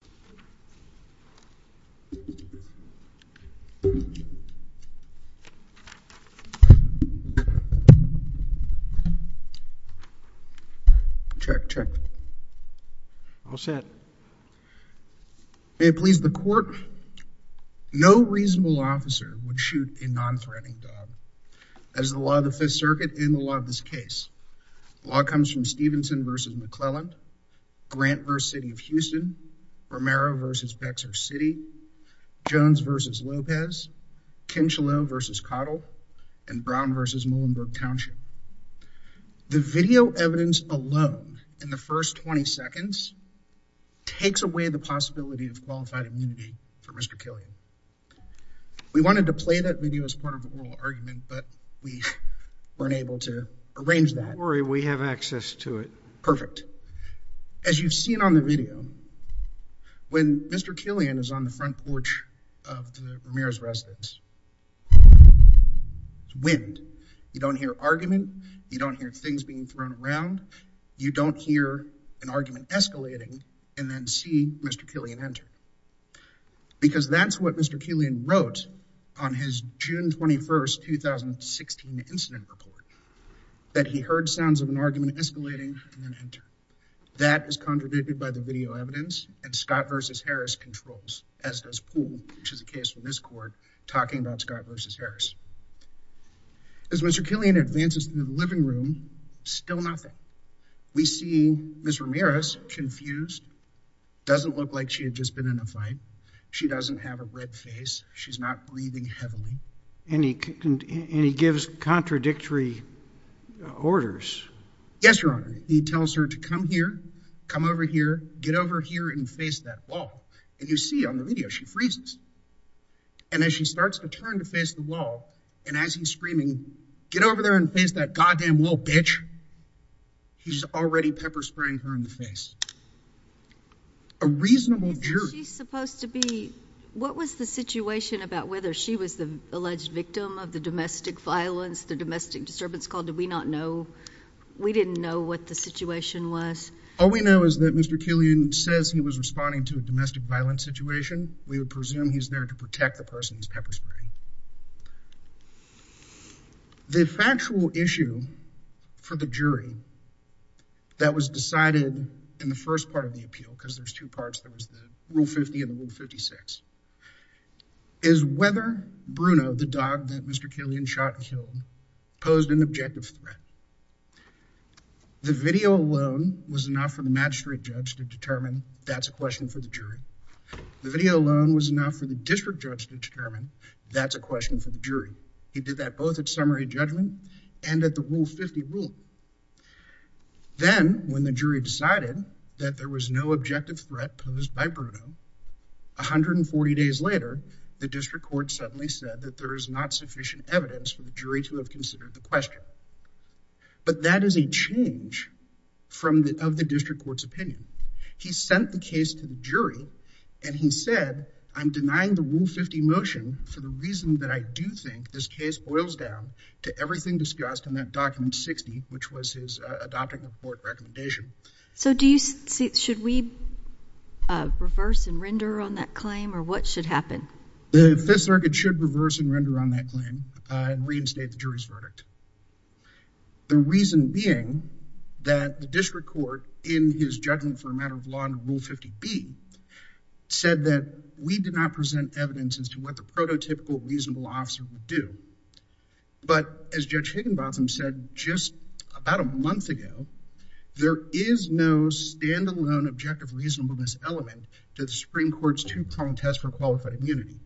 v. McClelland, Grant v. City of Houston, or McClelland v. Killian v. Killian v. McClelland. Romero v. Bexar City, Jones v. Lopez, Kincheloe v. Cottle, and Brown v. Muhlenberg Township. The video evidence alone, in the first 20 seconds, takes away the possibility of qualified immunity for Mr. Killian. We wanted to play that video as part of an oral argument, but we weren't able to arrange that. Don't worry, we have access to it. Perfect. As you've seen on the video, when Mr. Killian is on the front porch of the Ramirez residence, it's wind. You don't hear argument, you don't hear things being thrown around, you don't hear an argument escalating and then see Mr. Killian enter. Because that's what Mr. Killian wrote on his June 21, 2016 incident report, that he heard sounds of an argument escalating and then enter. That is contradicted by the video evidence, and Scott v. Harris controls, as does Poole, which is the case in this court, talking about Scott v. Harris. As Mr. Killian advances into the living room, still nothing. We see Ms. Ramirez, confused, doesn't look like she had just been in a fight, she doesn't have a red face, she's not breathing heavily. And he gives contradictory orders. Yes, Your Honor. He tells her to come here, come over here, get over here and face that wall. And you see on the video, she freezes. And as she starts to turn to face the wall, and as he's screaming, get over there and face that goddamn wall, bitch. He's already pepper spraying her in the face. A reasonable jury. She's supposed to be, what was the situation about whether she was the alleged victim of the domestic violence, the domestic disturbance call, did we not know? We didn't know what the situation was. All we know is that Mr. Killian says he was responding to a domestic violence situation. We would presume he's there to protect the person who's pepper spraying. The factual issue for the jury that was decided in the first part of the appeal, because there's two parts, there was the Rule 50 and the Rule 56, is whether Bruno, the dog that Mr. Killian shot and killed, posed an objective threat. The video alone was enough for the magistrate judge to determine that's a question for the jury. The video alone was enough for the district judge to determine that's a question for the jury. He did that both at summary judgment and at the Rule 50 rule. Then, when the jury decided that there was no objective threat posed by Bruno, 140 days later, the district court suddenly said that there is not sufficient evidence for the jury to have considered the question. But that is a change of the district court's opinion. He sent the case to the jury and he said, I'm denying the Rule 50 motion for the reason that I do think this case boils down to everything discussed in that document 60, which was his adopting a court recommendation. So do you see, should we reverse and render on that claim or what should happen? The Fifth Circuit should reverse and render on that claim and reinstate the jury's verdict. The reason being that the district court, in his judgment for a matter of law under Rule 50B, said that we did not present evidence as to what the prototypical reasonable officer would do. But as Judge Higginbotham said just about a month ago, there is no stand-alone objective reasonableness element to the Supreme Court's two-prong test for qualified immunity.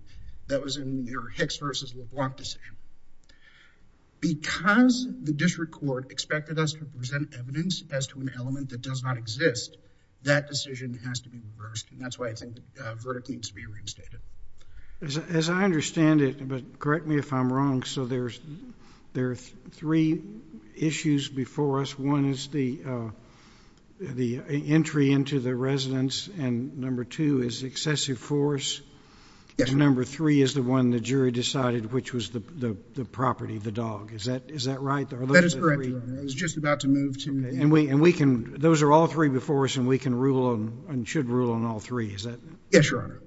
That was in their Hicks v. LeBlanc decision. Because the district court expected us to present evidence as to an element that does not exist, that decision has to be reversed and that's why I think the verdict needs to be reinstated. As I understand it, but correct me if I'm wrong, so there are three issues before us. One is the entry into the residence, and number two is excessive force, and number three is the one the jury decided which was the property, the dog. Is that right? That is correct, Your Honor. I was just about to move to that. Those are all three before us and we can rule and should rule on all three, is that right? Yes, Your Honor.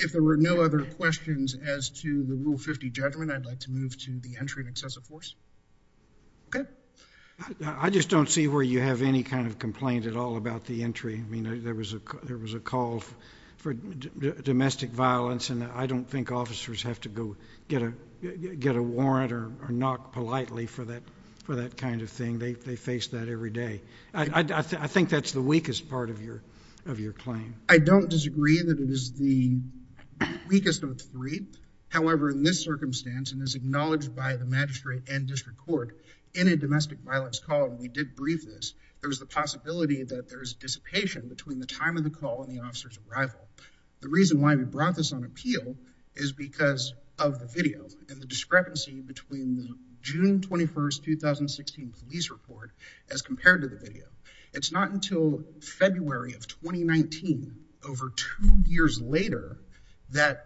If there were no other questions as to the Rule 50 judgment, I'd like to move to the entry of excessive force. Okay. I just don't see where you have any kind of complaint at all about the entry. I mean, there was a call for domestic violence, and I don't think officers have to go get a warrant or knock politely for that kind of thing. They face that every day. I think that's the weakest part of your claim. I don't disagree that it is the weakest of the three. However, in this circumstance, and as acknowledged by the magistrate and district court, in a domestic violence call, and we did brief this, there's the possibility that there's dissipation between the time of the call and the officer's arrival. The reason why we brought this on appeal is because of the video and the discrepancy between the June 21, 2016 police report as compared to the video. It's not until February of 2019, over two years later, that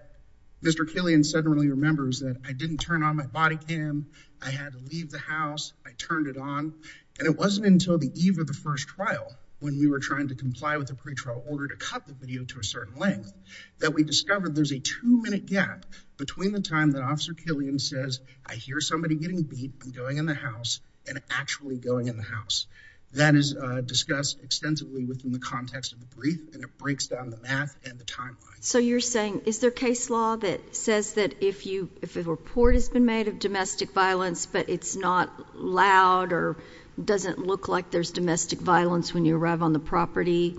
Mr. Killian suddenly remembers that I didn't turn on my body cam, I had to leave the house, I turned it on, and it wasn't until the eve of the first trial, when we were trying to comply with the pretrial order to cut the video to a certain length, that we discovered there's a two-minute gap between the time that Officer Killian says, I hear somebody getting beat and going in the house and actually going in the house. That is discussed extensively within the context of the brief, and it breaks down the math and the timeline. So you're saying, is there case law that says that if a report has been made of domestic violence, but it's not loud or doesn't look like there's domestic violence when you arrive on the property,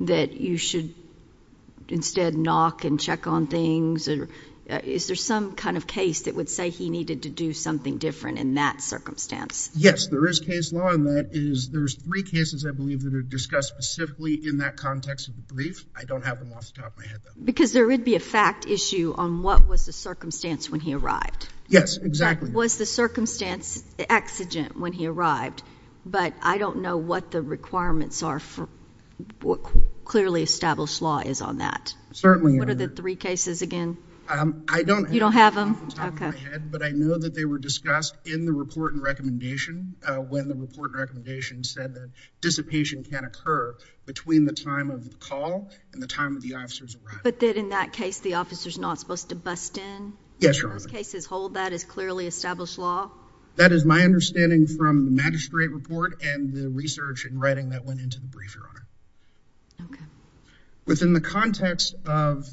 that you should instead knock and check on things? Is there some kind of case that would say he needed to do something different in that circumstance? Yes, there is case law, and that is there's three cases, I believe, that are discussed specifically in that context of the brief. I don't have them off the top of my head, though. Because there would be a fact issue on what was the circumstance when he arrived. Yes, exactly. Was the circumstance exigent when he arrived, but I don't know what the requirements are for what clearly established law is on that. Certainly. What are the three cases again? I don't have them off the top of my head, but I know that they were discussed in the report and recommendation when the report and recommendation said that dissipation can occur between the time of the call and the time of the officer's arrival. But in that case, the officer's not supposed to bust in? Yes, Your Honor. Those cases hold that as clearly established law? That is my understanding from the magistrate report and the research and writing that went into the brief, Your Honor. Okay. In the context of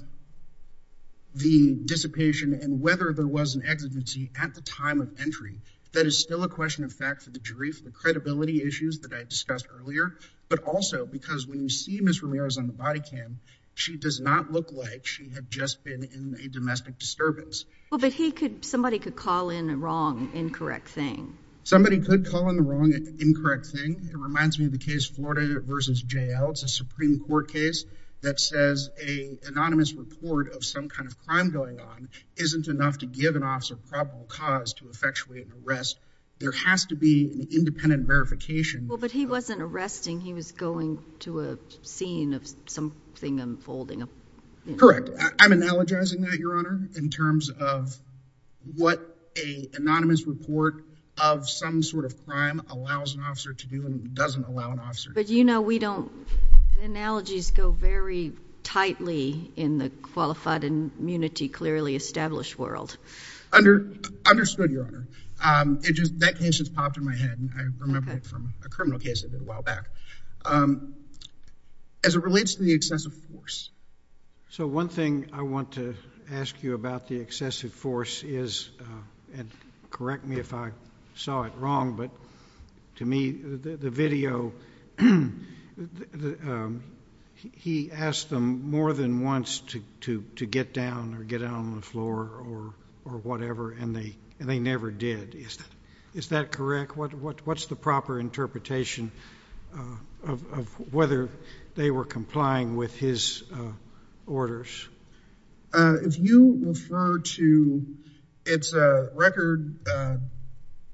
the dissipation and whether there was an exigency at the time of entry, that is still a question of fact for the jury for the credibility issues that I discussed earlier, but also because when you see Ms. Ramirez on the body cam, she does not look like she had just been in a domestic disturbance. But somebody could call in a wrong, incorrect thing. Somebody could call in the wrong, incorrect thing. It reminds me of the case Florida v. J.L. It's a Supreme Court case that says an anonymous report of some kind of crime going on isn't enough to give an officer probable cause to effectuate an arrest. There has to be an independent verification. Well, but he wasn't arresting. He was going to a scene of something unfolding. Correct. I'm analogizing that, Your Honor, in terms of what an anonymous report of some sort of crime allows an officer to do and doesn't allow an officer to do. But you know we don't. Analogies go very tightly in the qualified and immunity clearly established world. Understood, Your Honor. That case just popped in my head. I remember it from a criminal case I did a while back. As it relates to the excessive force. So one thing I want to ask you about the excessive force is, and correct me if I saw it wrong, but to me the video, he asked them more than once to get down or get down on the floor or whatever and they never did. Is that correct? What's the proper interpretation of whether they were complying with his orders? If you refer to, it's a record.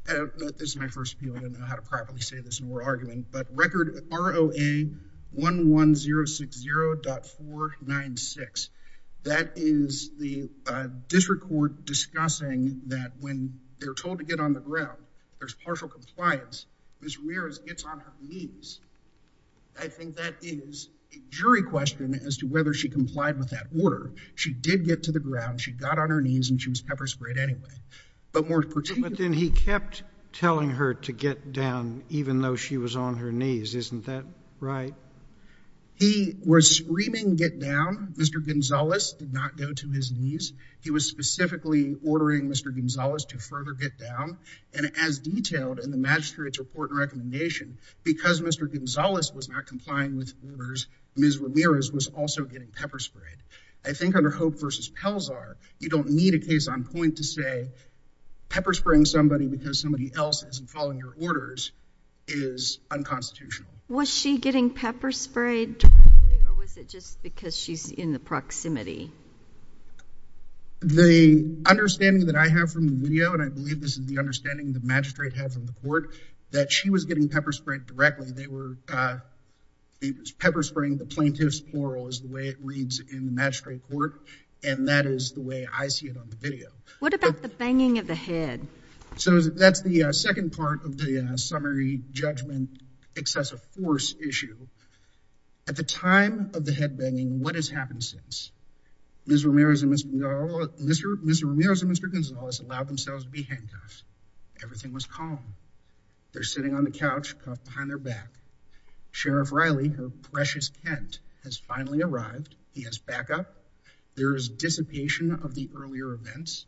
This is my first appeal. I don't know how to properly say this and we're arguing, but record ROA 11060.496. That is the district court discussing that when they're told to get on the ground, there's partial compliance. Ms. Ramirez gets on her knees. I think that is a jury question as to whether she complied with that order. She did get to the ground. She got on her knees and she was pepper sprayed anyway. But more particularly. But then he kept telling her to get down even though she was on her knees. Isn't that right? He was screaming get down. Mr. Gonzalez did not go to his knees. He was specifically ordering Mr. Gonzalez to further get down. And as detailed in the magistrate's report and recommendation, because Mr. Gonzalez was not complying with orders, Ms. Ramirez was also getting pepper sprayed. I think under Hope versus Pelzar, you don't need a case on point to say pepper spraying somebody because somebody else isn't following your orders is unconstitutional. Was she getting pepper sprayed or was it just because she's in the proximity? The understanding that I have from the video, and I believe this is the understanding the magistrate had from the court, that she was getting pepper sprayed directly. They were pepper spraying the plaintiff's oral, is the way it reads in the magistrate court. And that is the way I see it on the video. What about the banging of the head? So that's the second part of the summary judgment excessive force issue. At the time of the head banging, what has happened since? Ms. Ramirez and Mr. Gonzalez allowed themselves to be handcuffed. Everything was calm. They're sitting on the couch, cuffed behind their back. Sheriff Riley, her precious aunt, has finally arrived. He has backup. There is dissipation of the earlier events.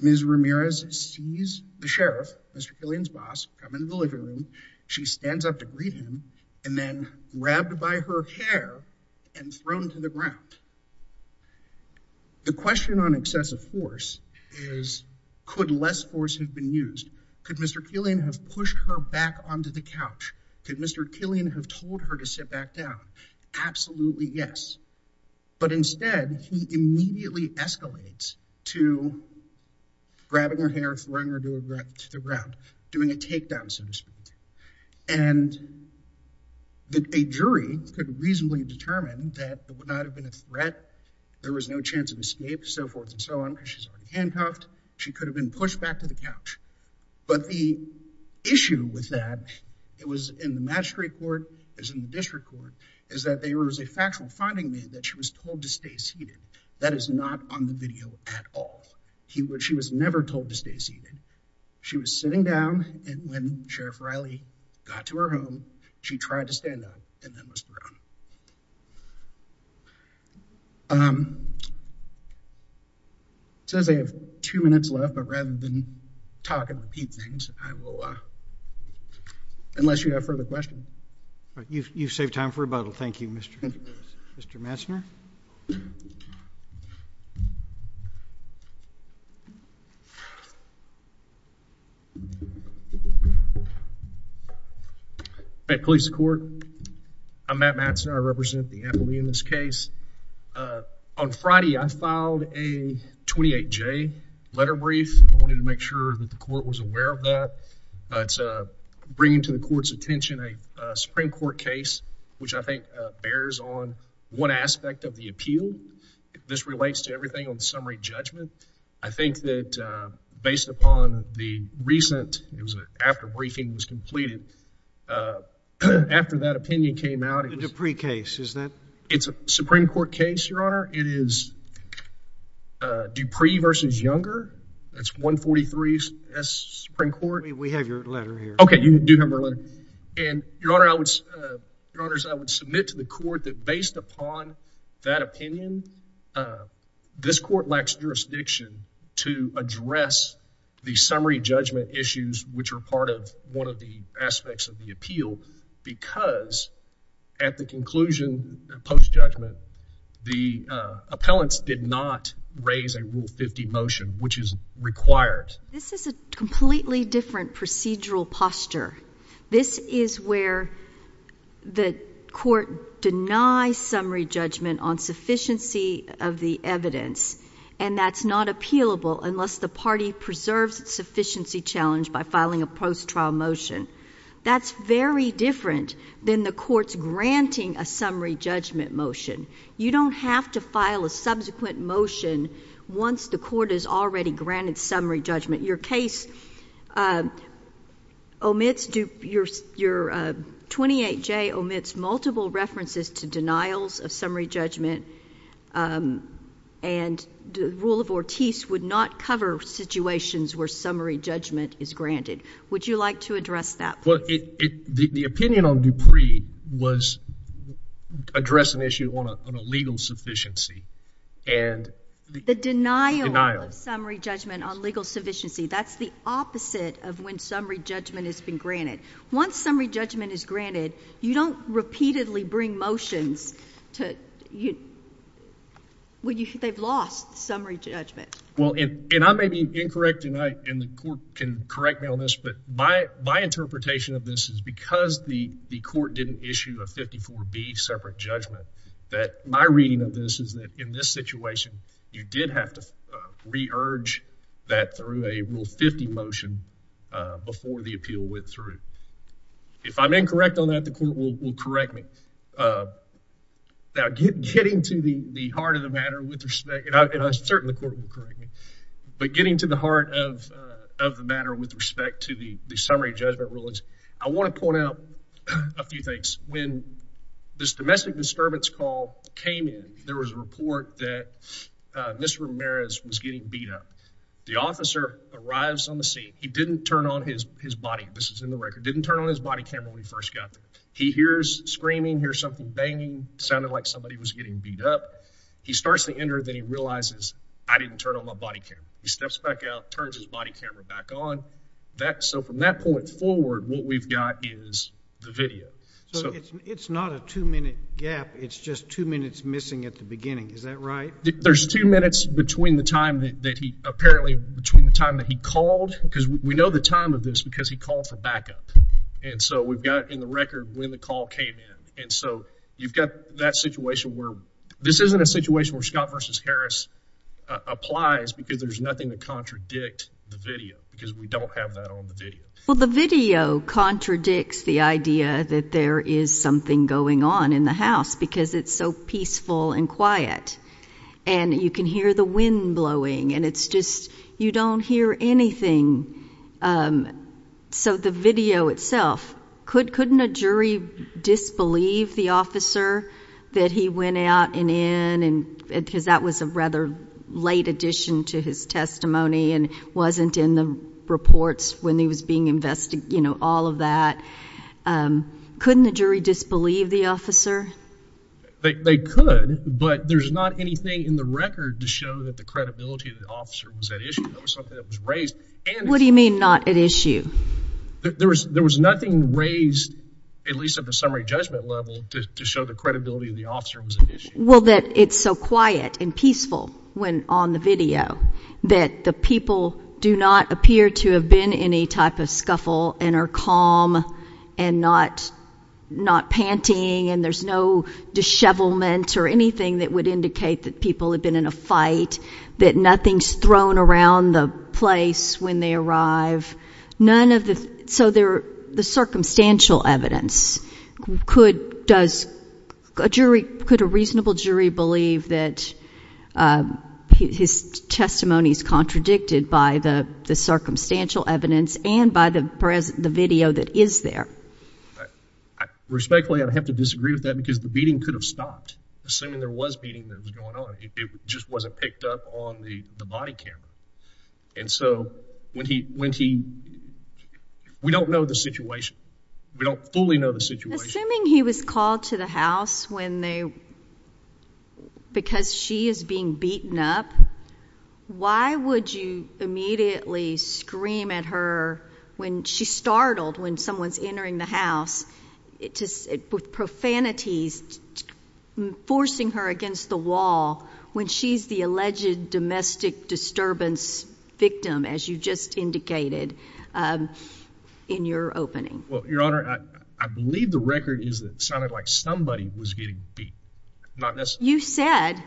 Ms. Ramirez sees the sheriff, Mr. Killian's boss, come into the living room. She stands up to greet him and then, grabbed by her hair and thrown to the ground. The question on excessive force is, could less force have been used? Could Mr. Killian have pushed her back onto the couch? Could Mr. Killian have told her to sit back down? Absolutely yes. But instead, he immediately escalates to grabbing her hair, throwing her to the ground, doing a takedown, so to speak. And a jury could reasonably determine that there would not have been a threat. There was no chance of escape, so forth and so on, because she's already handcuffed. She could have been pushed back to the couch. But the issue with that, it was in the magistrate court, it was in the district court, is that there was a factual finding made that she was told to stay seated. That is not on the video at all. She was never told to stay seated. She was sitting down, and when Sheriff Riley got to her home, she tried to stand up and then was thrown. It says I have two minutes left, but rather than talk and repeat things, I will, unless you have further questions. You've saved time for rebuttal. Thank you, Mr. Messner. Hi, police and court. I'm Matt Messner. I represent the attorney in this case. On Friday, I filed a 28-J letter brief. I wanted to make sure that the court was aware of that. It's bringing to the court's attention a Supreme Court case, which I think bears on one aspect of the appeal. This relates to everything on summary judgment. I think that based upon the recent, it was after briefing was completed, after that opinion came out. The Dupree case, is that? It's a Supreme Court case, Your Honor. It is Dupree versus Younger. That's 143 S Supreme Court. We have your letter here. Okay, you do have our letter. And, Your Honor, I would submit to the court that based upon that opinion, this court lacks jurisdiction to address the summary judgment issues, which are part of one of the aspects of the appeal, because at the conclusion, post-judgment, the appellants did not raise a Rule 50 motion, which is required. This is a completely different procedural posture. This is where the court denies summary judgment on sufficiency of the evidence, and that's not appealable unless the party preserves its sufficiency challenge by filing a post-trial motion. That's very different than the court's granting a summary judgment motion. You don't have to file a subsequent motion once the court has already granted summary judgment. Your case omits, your 28J omits multiple references to denials of summary judgment, and the rule of Ortiz would not cover situations where summary judgment is granted. Would you like to address that? Well, the opinion on Dupree was address an issue on a legal sufficiency. The denial of summary judgment on legal sufficiency. That's the opposite of when summary judgment has been granted. Once summary judgment is granted, you don't repeatedly bring motions when they've lost summary judgment. Well, and I may be incorrect, and the court can correct me on this, but my interpretation of this is because the court didn't issue a 54B separate judgment, that my reading of this is that in this situation, you did have to re-urge that through a Rule 50 motion before the appeal went through. If I'm incorrect on that, the court will correct me. Now, getting to the heart of the matter with respect, and I'm certain the court will correct me, but getting to the heart of the matter with respect to the summary judgment rulings, I want to point out a few things. When this domestic disturbance call came in, there was a report that Mr. Ramirez was getting beat up. The officer arrives on the scene. He didn't turn on his body. This is in the record. Didn't turn on his body camera when he first got there. He hears screaming, hears something banging, sounded like somebody was getting beat up. He starts to enter, then he realizes, I didn't turn on my body camera. He steps back out, turns his body camera back on. So from that point forward, what we've got is the video. So it's not a two-minute gap. It's just two minutes missing at the beginning. Is that right? There's two minutes between the time that he called, because we know the time of this because he called for backup. And so we've got in the record when the call came in. And so you've got that situation where this isn't a situation where Scott v. Harris applies because there's nothing to contradict the video because we don't have that on the video. Well, the video contradicts the idea that there is something going on in the house because it's so peaceful and quiet. And you can hear the wind blowing. And it's just you don't hear anything. So the video itself, couldn't a jury disbelieve the officer that he went out and in? Because that was a rather late addition to his testimony and wasn't in the reports when he was being investigated, all of that. Couldn't the jury disbelieve the officer? They could, but there's not anything in the record to show that the credibility of the officer was at issue. That was something that was raised. What do you mean not at issue? There was nothing raised, at least at the summary judgment level, to show the credibility of the officer was at issue. Well, that it's so quiet and peaceful when on the video that the people do not appear to have been in a type of scuffle and are calm and not, not panting. And there's no dishevelment or anything that would indicate that people had been in a fight, that nothing's thrown around the place when they arrive. None of the, so there the circumstantial evidence could, does a jury, could a reasonable jury believe that his testimony is contradicted by the circumstantial evidence and by the present, the video that is there? Respectfully, I'd have to disagree with that because the beating could have stopped. Assuming there was beating that was going on. It just wasn't picked up on the body camera. And so when he, when he, we don't know the situation, we don't fully know the situation. Assuming he was called to the house when they, because she is being beaten up. Why would you immediately scream at her when she startled, when someone's entering the house, it just with profanities forcing her against the wall, when she's the alleged domestic disturbance victim, as you just indicated, um, in your opening. Well, your honor, I believe the record is that sounded like somebody was getting beat. Not necessarily. You said,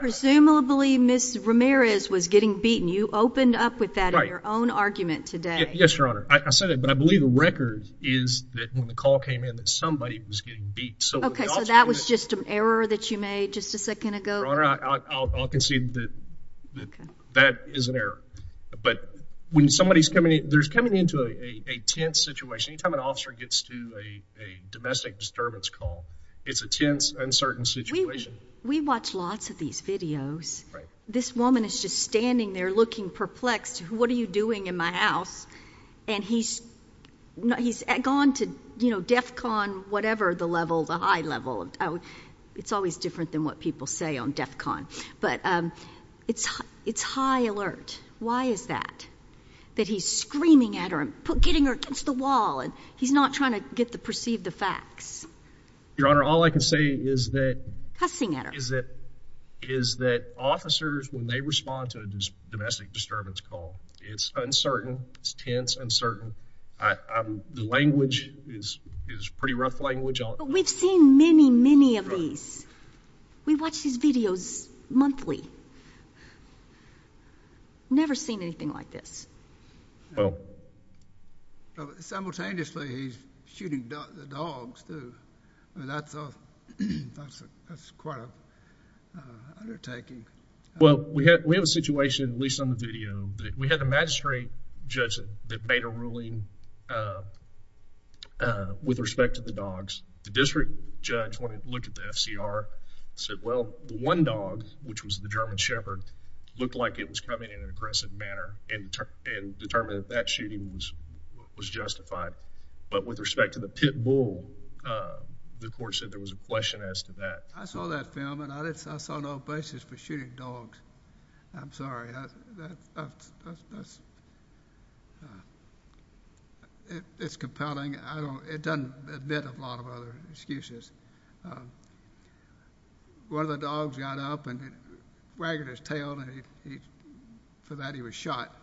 presumably miss Ramirez was getting beaten. You opened up with that in your own argument today. Yes, your honor. I said it, but I believe the record is that when the call came in that somebody was getting beat. So that was just an error that you made just a second ago. I'll concede that that is an error, but when somebody is coming in, there's coming into a tense situation. Anytime an officer gets to a, a domestic disturbance call, it's a tense, uncertain situation. We watch lots of these videos, right? This woman is just standing there looking perplexed. What are you doing in my house? And he's not, he's gone to, you know, Defcon, whatever the level, the high level, it's always different than what people say on Defcon, but, um, it's, it's high alert. Why is that? That he's screaming at her and getting her against the wall. And he's not trying to get the, perceive the facts. Your honor. All I can say is that, is that, is that officers, when they respond to a domestic disturbance call, it's uncertain. It's tense. Uncertain. The language is, is pretty rough language. We've seen many, many of these. We watch these videos monthly. Never seen anything like this. Well, simultaneously, he's shooting the dogs too. That's, that's quite an undertaking. Well, we have a situation, at least on the video, that we had a magistrate judge that made a ruling, uh, uh, with respect to the dogs. The district judge, when he looked at the FCR, said, well, the one dog, which was the German Shepherd, looked like it was coming in an aggressive manner and, and determined that that shooting was, was justified. But with respect to the pit bull, uh, the court said there was a question as to that. I saw that film, and I didn't, I saw no basis for shooting dogs. I'm sorry. That's, that's, that's, that's, uh, it, it's compelling. I don't, it doesn't admit a lot of other excuses. Um, one of the dogs got up and wagged his tail, and he, he, for that, he was shot.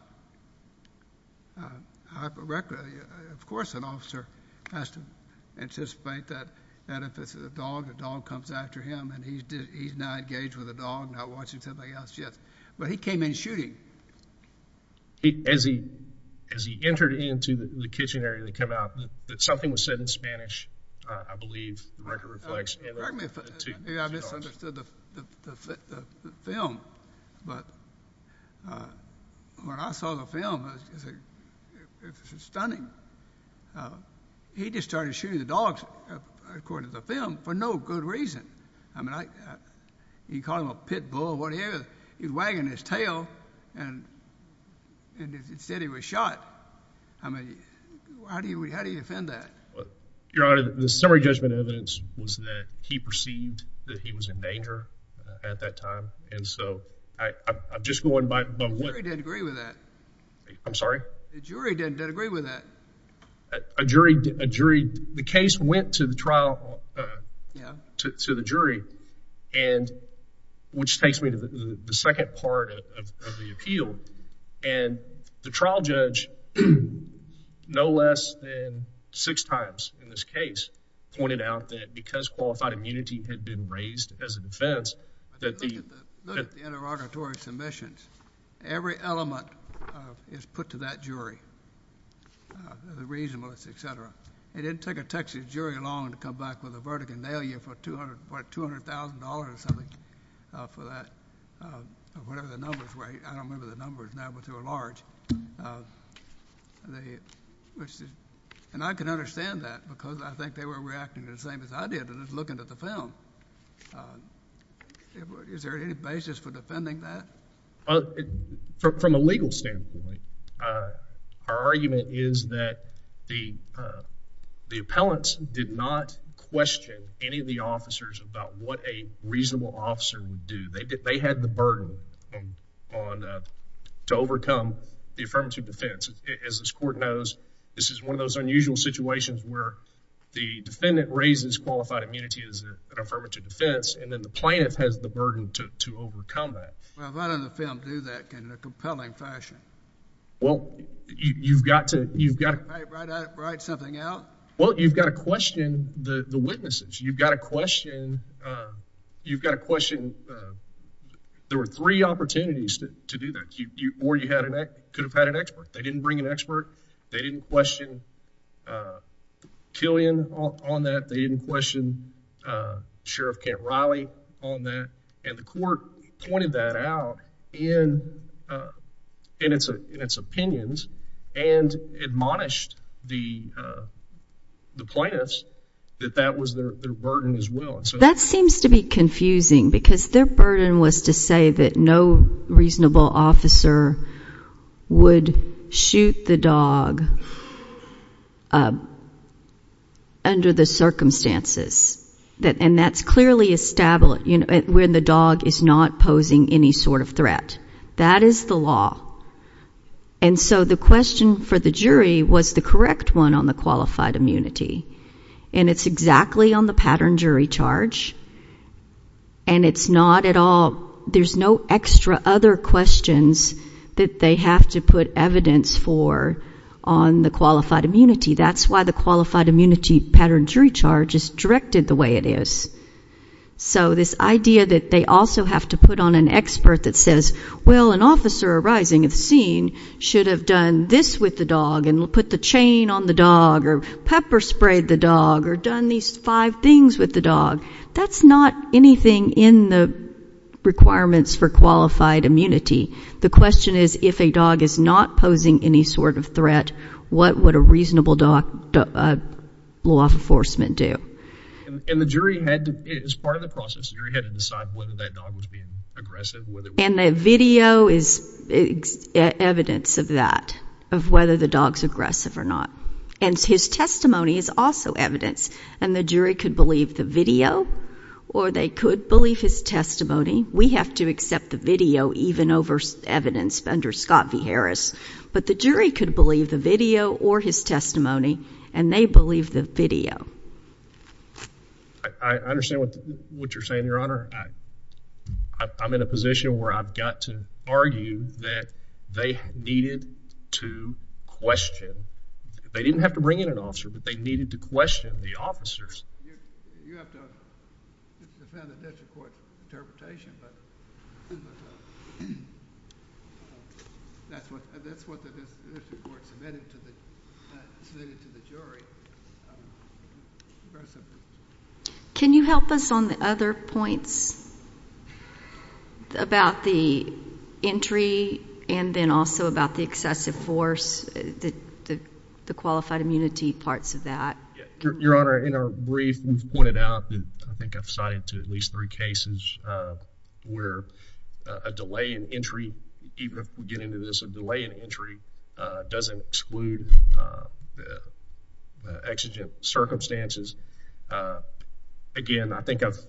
Uh, I, of course, an officer has to anticipate that, that if it's a dog, a dog comes after him, and he's, he's not engaged with a dog, not watching something else yet. But he came in shooting. As he, as he entered into the kitchen area to come out, that something was said in Spanish, uh, I believe, the record reflects. Maybe I misunderstood the, the, the, the film, but, uh, when I saw the film, it was, it was stunning. Uh, he just started shooting the dogs, according to the film, for no good reason. I mean, I, he called him a pit bull or whatever. He was wagging his tail, and, and it said he was shot. I mean, how do you, how do you defend that? Your Honor, the summary judgment evidence was that he perceived that he was in danger, uh, at that time. And so, I, I'm just going by, by what. The jury didn't agree with that. I'm sorry? The jury didn't, didn't agree with that. A jury, a jury, the case went to the trial, uh. Yeah. To, to the jury. And, which takes me to the, the second part of, of, of the appeal. And, the trial judge, no less than six times in this case, pointed out that because qualified immunity had been raised as a defense, that the. Look at the interrogatory submissions. Every element, uh, is put to that jury. Uh, the reasonableness, et cetera. It didn't take a Texas jury long to come back with a verdict and nail you for 200, what, $200,000 or something, uh, for that, uh, whatever the numbers were. I don't remember the numbers now, but they were large. Uh, the, which, and I can understand that because I think they were reacting to the same as I did, just looking at the film. Uh, is there any basis for defending that? Uh, from a legal standpoint, uh, our argument is that the, uh, the appellants did not question any of the officers about what a reasonable officer would do. They did, they had the burden on, on, uh, to overcome the affirmative defense. As this court knows, this is one of those unusual situations where the defendant raises qualified immunity as an affirmative defense. And then the plaintiff has the burden to, to overcome that. Well, why don't the film do that in a compelling fashion? Well, you, you've got to, you've got to write something out. Well, you've got to question the witnesses. You've got to question, uh, you've got to question, uh, there were three opportunities to, to do that. You, you, or you had an, could have had an expert. They didn't bring an expert. They didn't question, uh, Killian on that. They didn't question, uh, Sheriff Kent Riley on that. And the court pointed that out in, uh, in its, in its opinions and admonished the, uh, the plaintiffs that that was their burden as well. And so that seems to be confusing because their burden was to say that no reasonable officer would shoot the dog, uh, under the circumstances that, and that's clearly established. You know, when the dog is not posing any sort of threat, that is the law. And so the question for the jury was the correct one on the qualified immunity. And it's exactly on the pattern jury charge. And it's not at all. There's no extra other questions that they have to put evidence for on the qualified immunity. That's why the qualified immunity pattern jury charge is directed the way it is. So this idea that they also have to put on an expert that says, well, an officer arising at the scene should have done this with the dog and we'll put the chain on the dog or pepper sprayed the dog or done these five things with the dog. That's not anything in the requirements for qualified immunity. The question is, if a dog is not posing any sort of threat, what would a reasonable doc, uh, law enforcement do? And the jury had to, as part of the process, you had to decide whether that dog was being aggressive. And the video is evidence of that, of whether the dog's aggressive or not. And his testimony is also evidence. And the jury could believe the video or they could believe his testimony. We have to accept the video, even over evidence under Scott V. Harris, but the jury could believe the video or his testimony and they believe the video. I, I understand what you're saying, Your Honor. I, I'm in a position where I've got to argue that they needed to question. They didn't have to bring in an officer, but they needed to question the officers. You, you have to defend a district court interpretation, but that's what, that's what the district court submitted to the jury. Can you help us on the other points about the entry and then also about the excessive force, the, the, the qualified immunity parts of that. Your Honor, in our brief, we've pointed out that I think I've cited to at least three cases where a delay in entry, even if we get into this, the delay in entry doesn't exclude the exigent circumstances. Again, I think I've,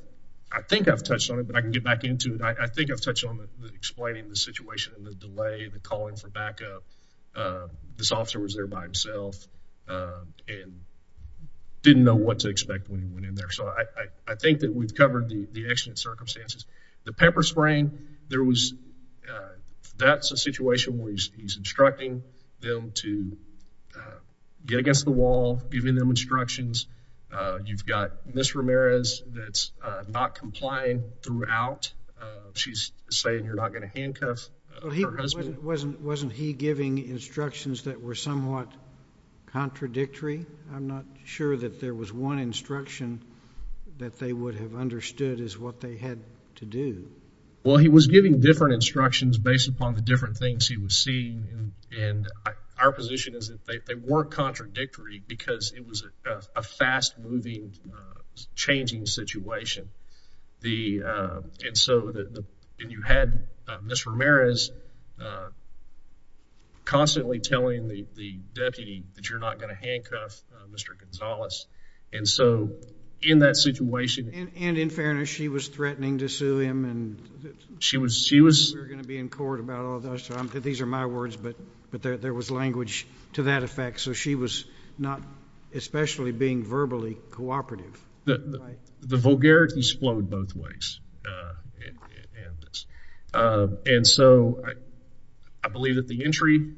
I think I've touched on it, but I can get back into it. I think I've touched on the explaining the situation and the delay, the calling for backup. This officer was there by himself and didn't know what to expect when he went in there. So I, I think that we've covered the, the exigent circumstances, the pepper spraying. There was, that's a situation where he's, he's instructing them to get against the wall, giving them instructions. You've got Ms. Ramirez that's not complying throughout. She's saying, you're not going to handcuff her husband. Wasn't, wasn't he giving instructions that were somewhat contradictory? I'm not sure that there was one instruction that they would have understood is what they had to do. Well, he was giving different instructions based upon the different things he was seeing. And our position is that they weren't contradictory because it was a fast moving, changing situation. The, and so the, the, and you had Ms. Ramirez constantly telling the, the deputy that you're not going to handcuff Mr. Gonzalez. And so in that situation. And in fairness, she was threatening to sue him and she was, she was going to be in court about all of that. So I'm good. These are my words, but, but there, there was language to that effect. So she was not, especially being verbally cooperative. The vulgarities flowed both ways. And, and so I, I believe that the entry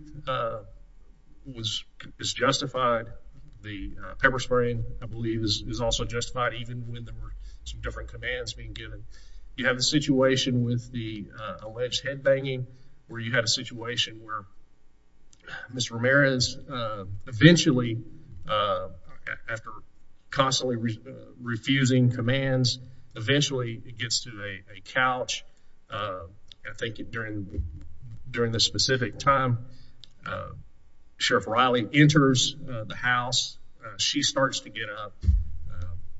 was, is justified. The pepper spraying, I believe is also justified, even when there were some different commands being given. You have a situation with the alleged head banging where you had a situation where Mr. Ramirez eventually, after constantly refusing commands, eventually it gets to a couch. I think during, during this specific time, Sheriff Riley enters the house. She starts to get up.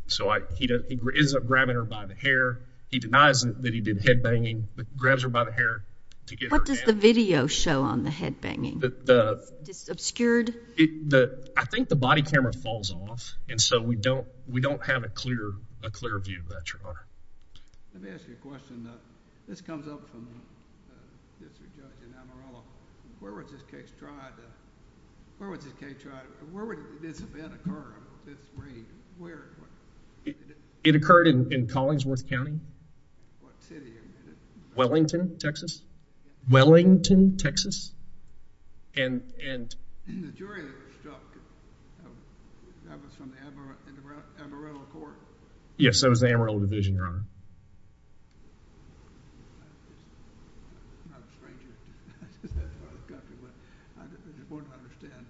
So I, he ends up grabbing her by the hair. He denies that he did head banging, but grabs her by the hair to get her down. What does the video show on the head banging? Obscured? The, I think the body camera falls off. And so we don't, we don't have a clear, a clear view of that, Your Honor. Let me ask you a question. This comes up from Mr. Judge DiNamorello. Where was this case tried? Where was this case tried? Where would this event occur? This raid? Where? It occurred in Collingsworth County. What city? Wellington, Texas. Wellington, Texas. And, and. And the jury that was dropped, that was from the Amarillo, Amarillo Court? Yes, that was the Amarillo division, Your Honor. I'm not a stranger to this country, but I just wouldn't understand.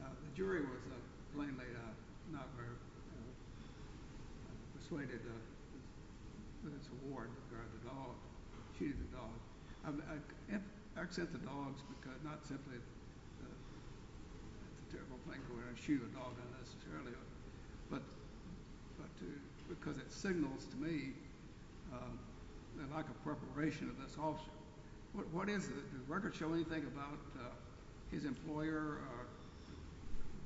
The jury was plainly not very persuaded with its award regarding the dog, shooting the dog. I, I accept the dogs, because not simply a terrible thing to wear a shoe, a dog unnecessarily, but, but, because it signals to me the lack of preparation of this officer. What, what is it? Does the record show anything about his employer, or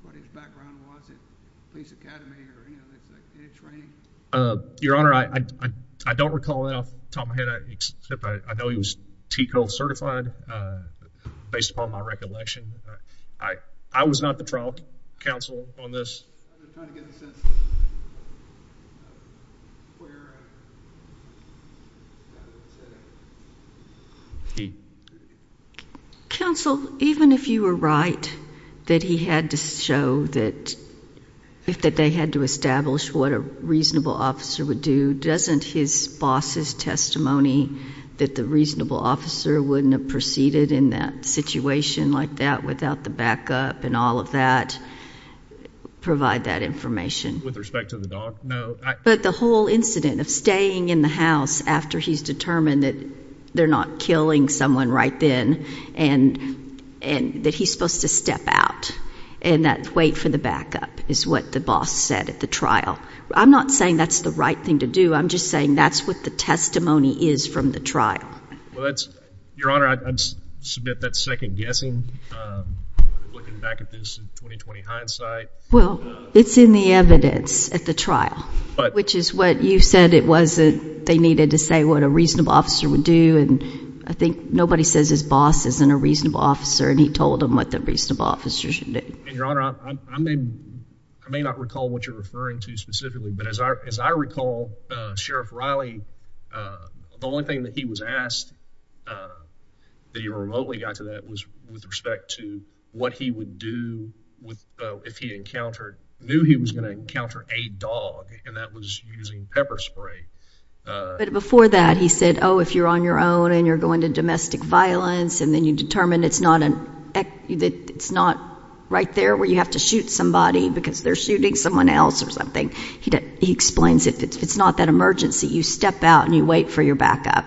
what his background was at Police Academy, or, you know, in his training? Your Honor, I, I, I don't recall it off the top of my head, except I, I know he was TCO certified, based upon my recollection. I, I was not the trial counsel on this. I'm just trying to get a sense of where that would sit. He. Counsel, even if you were right that he had to show that, that they had to establish what a reasonable officer would do, doesn't his boss' testimony that the reasonable officer wouldn't have proceeded in that situation like that without the backup and all of that provide that information? With respect to the dog, no. But the whole incident of staying in the house after he's determined that they're not killing someone right then and, and that he's supposed to step out and that wait for the backup is what the boss said at the trial. I'm not saying that's the right thing to do. I'm just saying that's what the testimony is from the trial. Well, that's, Your Honor, I, I submit that second guessing. Looking back at this in 20-20 hindsight. Well, it's in the evidence at the trial. But. Which is what you said it was that they needed to say what a reasonable officer would do and I think nobody says his boss isn't a reasonable officer and he told him what the reasonable officer should do. Your Honor, I may, I may not recall what you're referring to specifically, but as I recall, Sheriff Riley, the only thing that he was asked that he remotely got to that was with respect to what he would do if he encountered, knew he was going to encounter a dog and that was using pepper spray. But before that, he said, oh, if you're on your own and you're going to domestic violence and then you determine it's not an, it's not right there where you have to shoot somebody because they're shooting someone else or something. He explains if it's not that emergency, you step out and you wait for your backup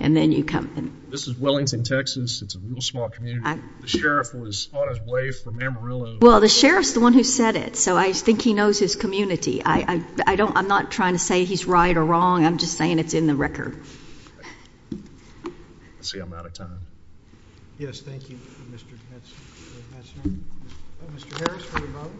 and then you come. This is Wellington, Texas. It's a real small community. The sheriff was on his way from Amarillo. Well, the sheriff's the one who said it, so I think he knows his community. I don't, I'm not trying to say he's right or wrong. I'm just saying it's in the record. Let's see. I'm out of time. Yes. Thank you. Mr. Mr.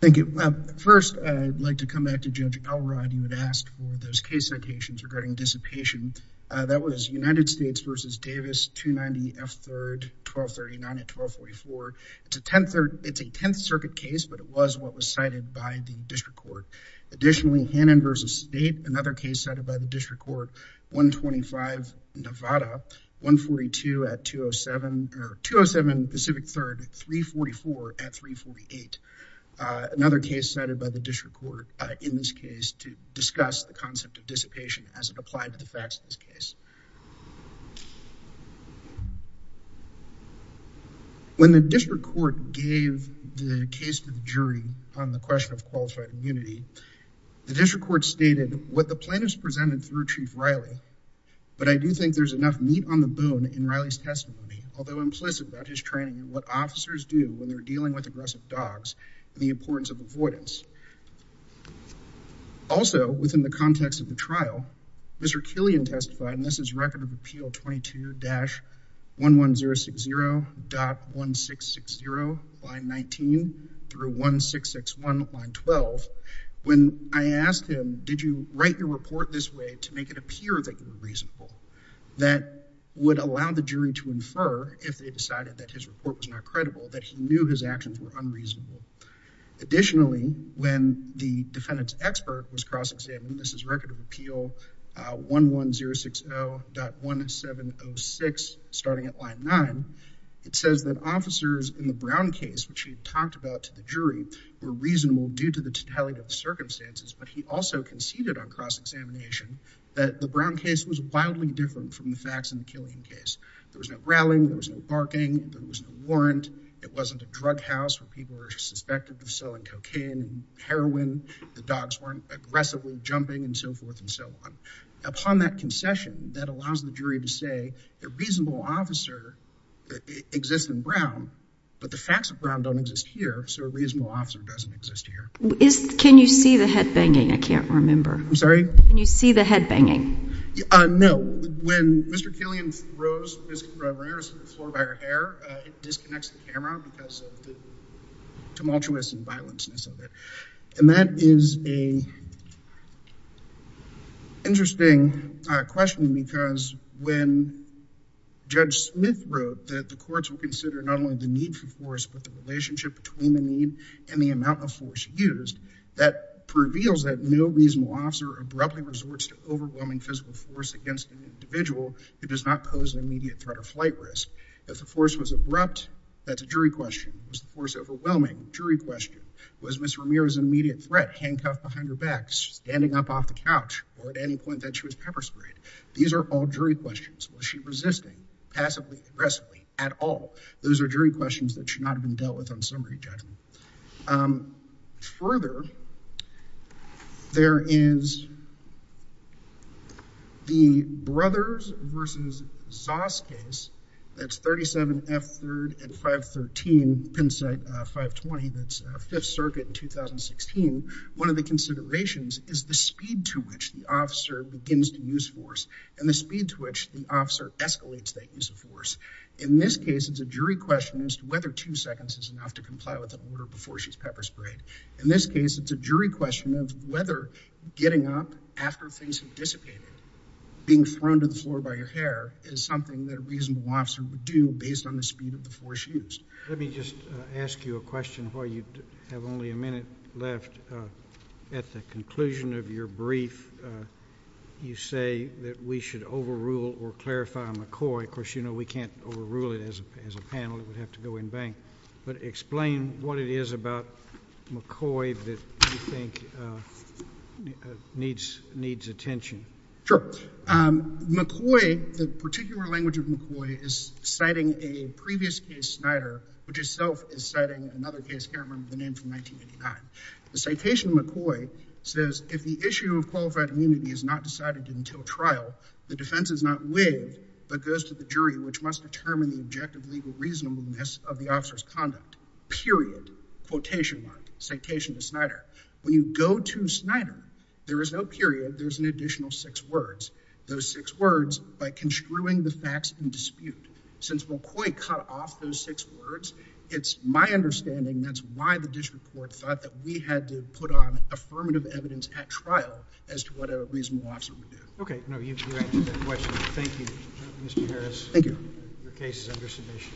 Thank you. First, I'd like to come back to judge. All right. You had asked for those case citations regarding dissipation. That was United States versus Davis to 90 F. Third, 1239 at 1244. It's a 10th. It's a 10th circuit case, but it was what was cited by the district court. Additionally, Hannon versus state. Another case cited by the district court. 125 Nevada, 142 at 207 or 207 Pacific third, 344 at 348. Another case cited by the district court. In this case to discuss the concept of dissipation as it applied to the facts of this case. When the district court gave the case to the jury on the question of qualified immunity, the district court stated what the plan is presented through chief Riley. But I do think there's enough meat on the bone in Riley's testimony, although implicit about his training and what officers do when they're dealing with aggressive dogs and the importance of avoidance. Also within the context of the trial, Mr. Killian testified, and this is record of appeal 22 dash one one zero six zero dot one six six zero by 19 through one six, six one line 12. When I asked him, did you write your report this way to make it appear that you were reasonable? That would allow the jury to infer if they decided that his report was not credible, that he knew his actions were unreasonable. Additionally, when the defendant's expert was cross-examined, this is record of appeal one one zero six zero dot one seven oh six, starting at line nine. It says that officers in the Brown case, which we've talked about to the jury were reasonable due to the totality of the circumstances, but he also conceded on cross-examination that the Brown case was wildly different from the facts in the Killian case. There was no growling, there was no barking, there was no warrant. It wasn't a drug house where people were suspected of selling cocaine and heroin. The dogs weren't aggressively jumping and so forth and so on. Upon that concession, that allows the jury to say the reasonable officer exists in Brown, but the facts of Brown don't exist here. So a reasonable officer doesn't exist here. Can you see the head banging? I can't remember. I'm sorry. Can you see the head banging? No. When Mr. Killian throws Mr. Ramirez to the floor by her hair, it disconnects the camera because of the tumultuous and violent-ness of it. And that is a interesting question because when Judge Smith wrote that the courts will consider not only the need for force, but the relationship between the need and the amount of force used, that reveals that no reasonable officer abruptly resorts to overwhelming physical force against an individual who does not pose an immediate threat of flight risk. If the force was abrupt, that's a jury question. Was the force overwhelming? Jury question. Was Ms. Ramirez an immediate threat, handcuffed behind her back, standing up off the couch, or at any point that she was pepper sprayed? These are all jury questions. Was she resisting passively, aggressively at all? Those are jury questions that should not have been dealt with on summary judgment. Further, there is the Brothers versus Zoss case, that's 37 F3rd and 513 Penn State 520, that's Fifth Circuit in 2016. One of the considerations is the speed to which the officer begins to use force and the speed to which the officer escalates that use of force. In this case, it's a jury question as to whether two seconds is enough to comply with an order before she's pepper sprayed. In this case, it's a jury question of whether getting up after things have dissipated, being thrown to the floor by your hair, is something that a reasonable officer would do based on the speed of the force used. Let me just ask you a question while you have only a minute left. At the conclusion of your brief, you say that we should overrule or clarify McCoy. Of course, we can't overrule it as a panel. It would have to go in bank. Explain what it is about McCoy that you think needs attention. Sure. McCoy, the particular language of McCoy, is citing a previous case, Snyder, which itself is citing another case here. I don't remember the name from 1989. The citation of McCoy says, if the issue of qualified immunity is not decided until trial, the defense is not waived but goes to the jury, which must determine the objective legal reasonableness of the officer's conduct. Period. Quotation mark. Citation of Snyder. When you go to Snyder, there is no period. There's an additional six words. Those six words, by construing the facts in dispute. Since McCoy cut off those six words, it's my understanding, that's why the district court thought that we had to put on affirmative evidence at trial as to what a reasonable officer would do. Okay. You answered that question. Thank you, Mr. Harris. Thank you. Your case is under submission.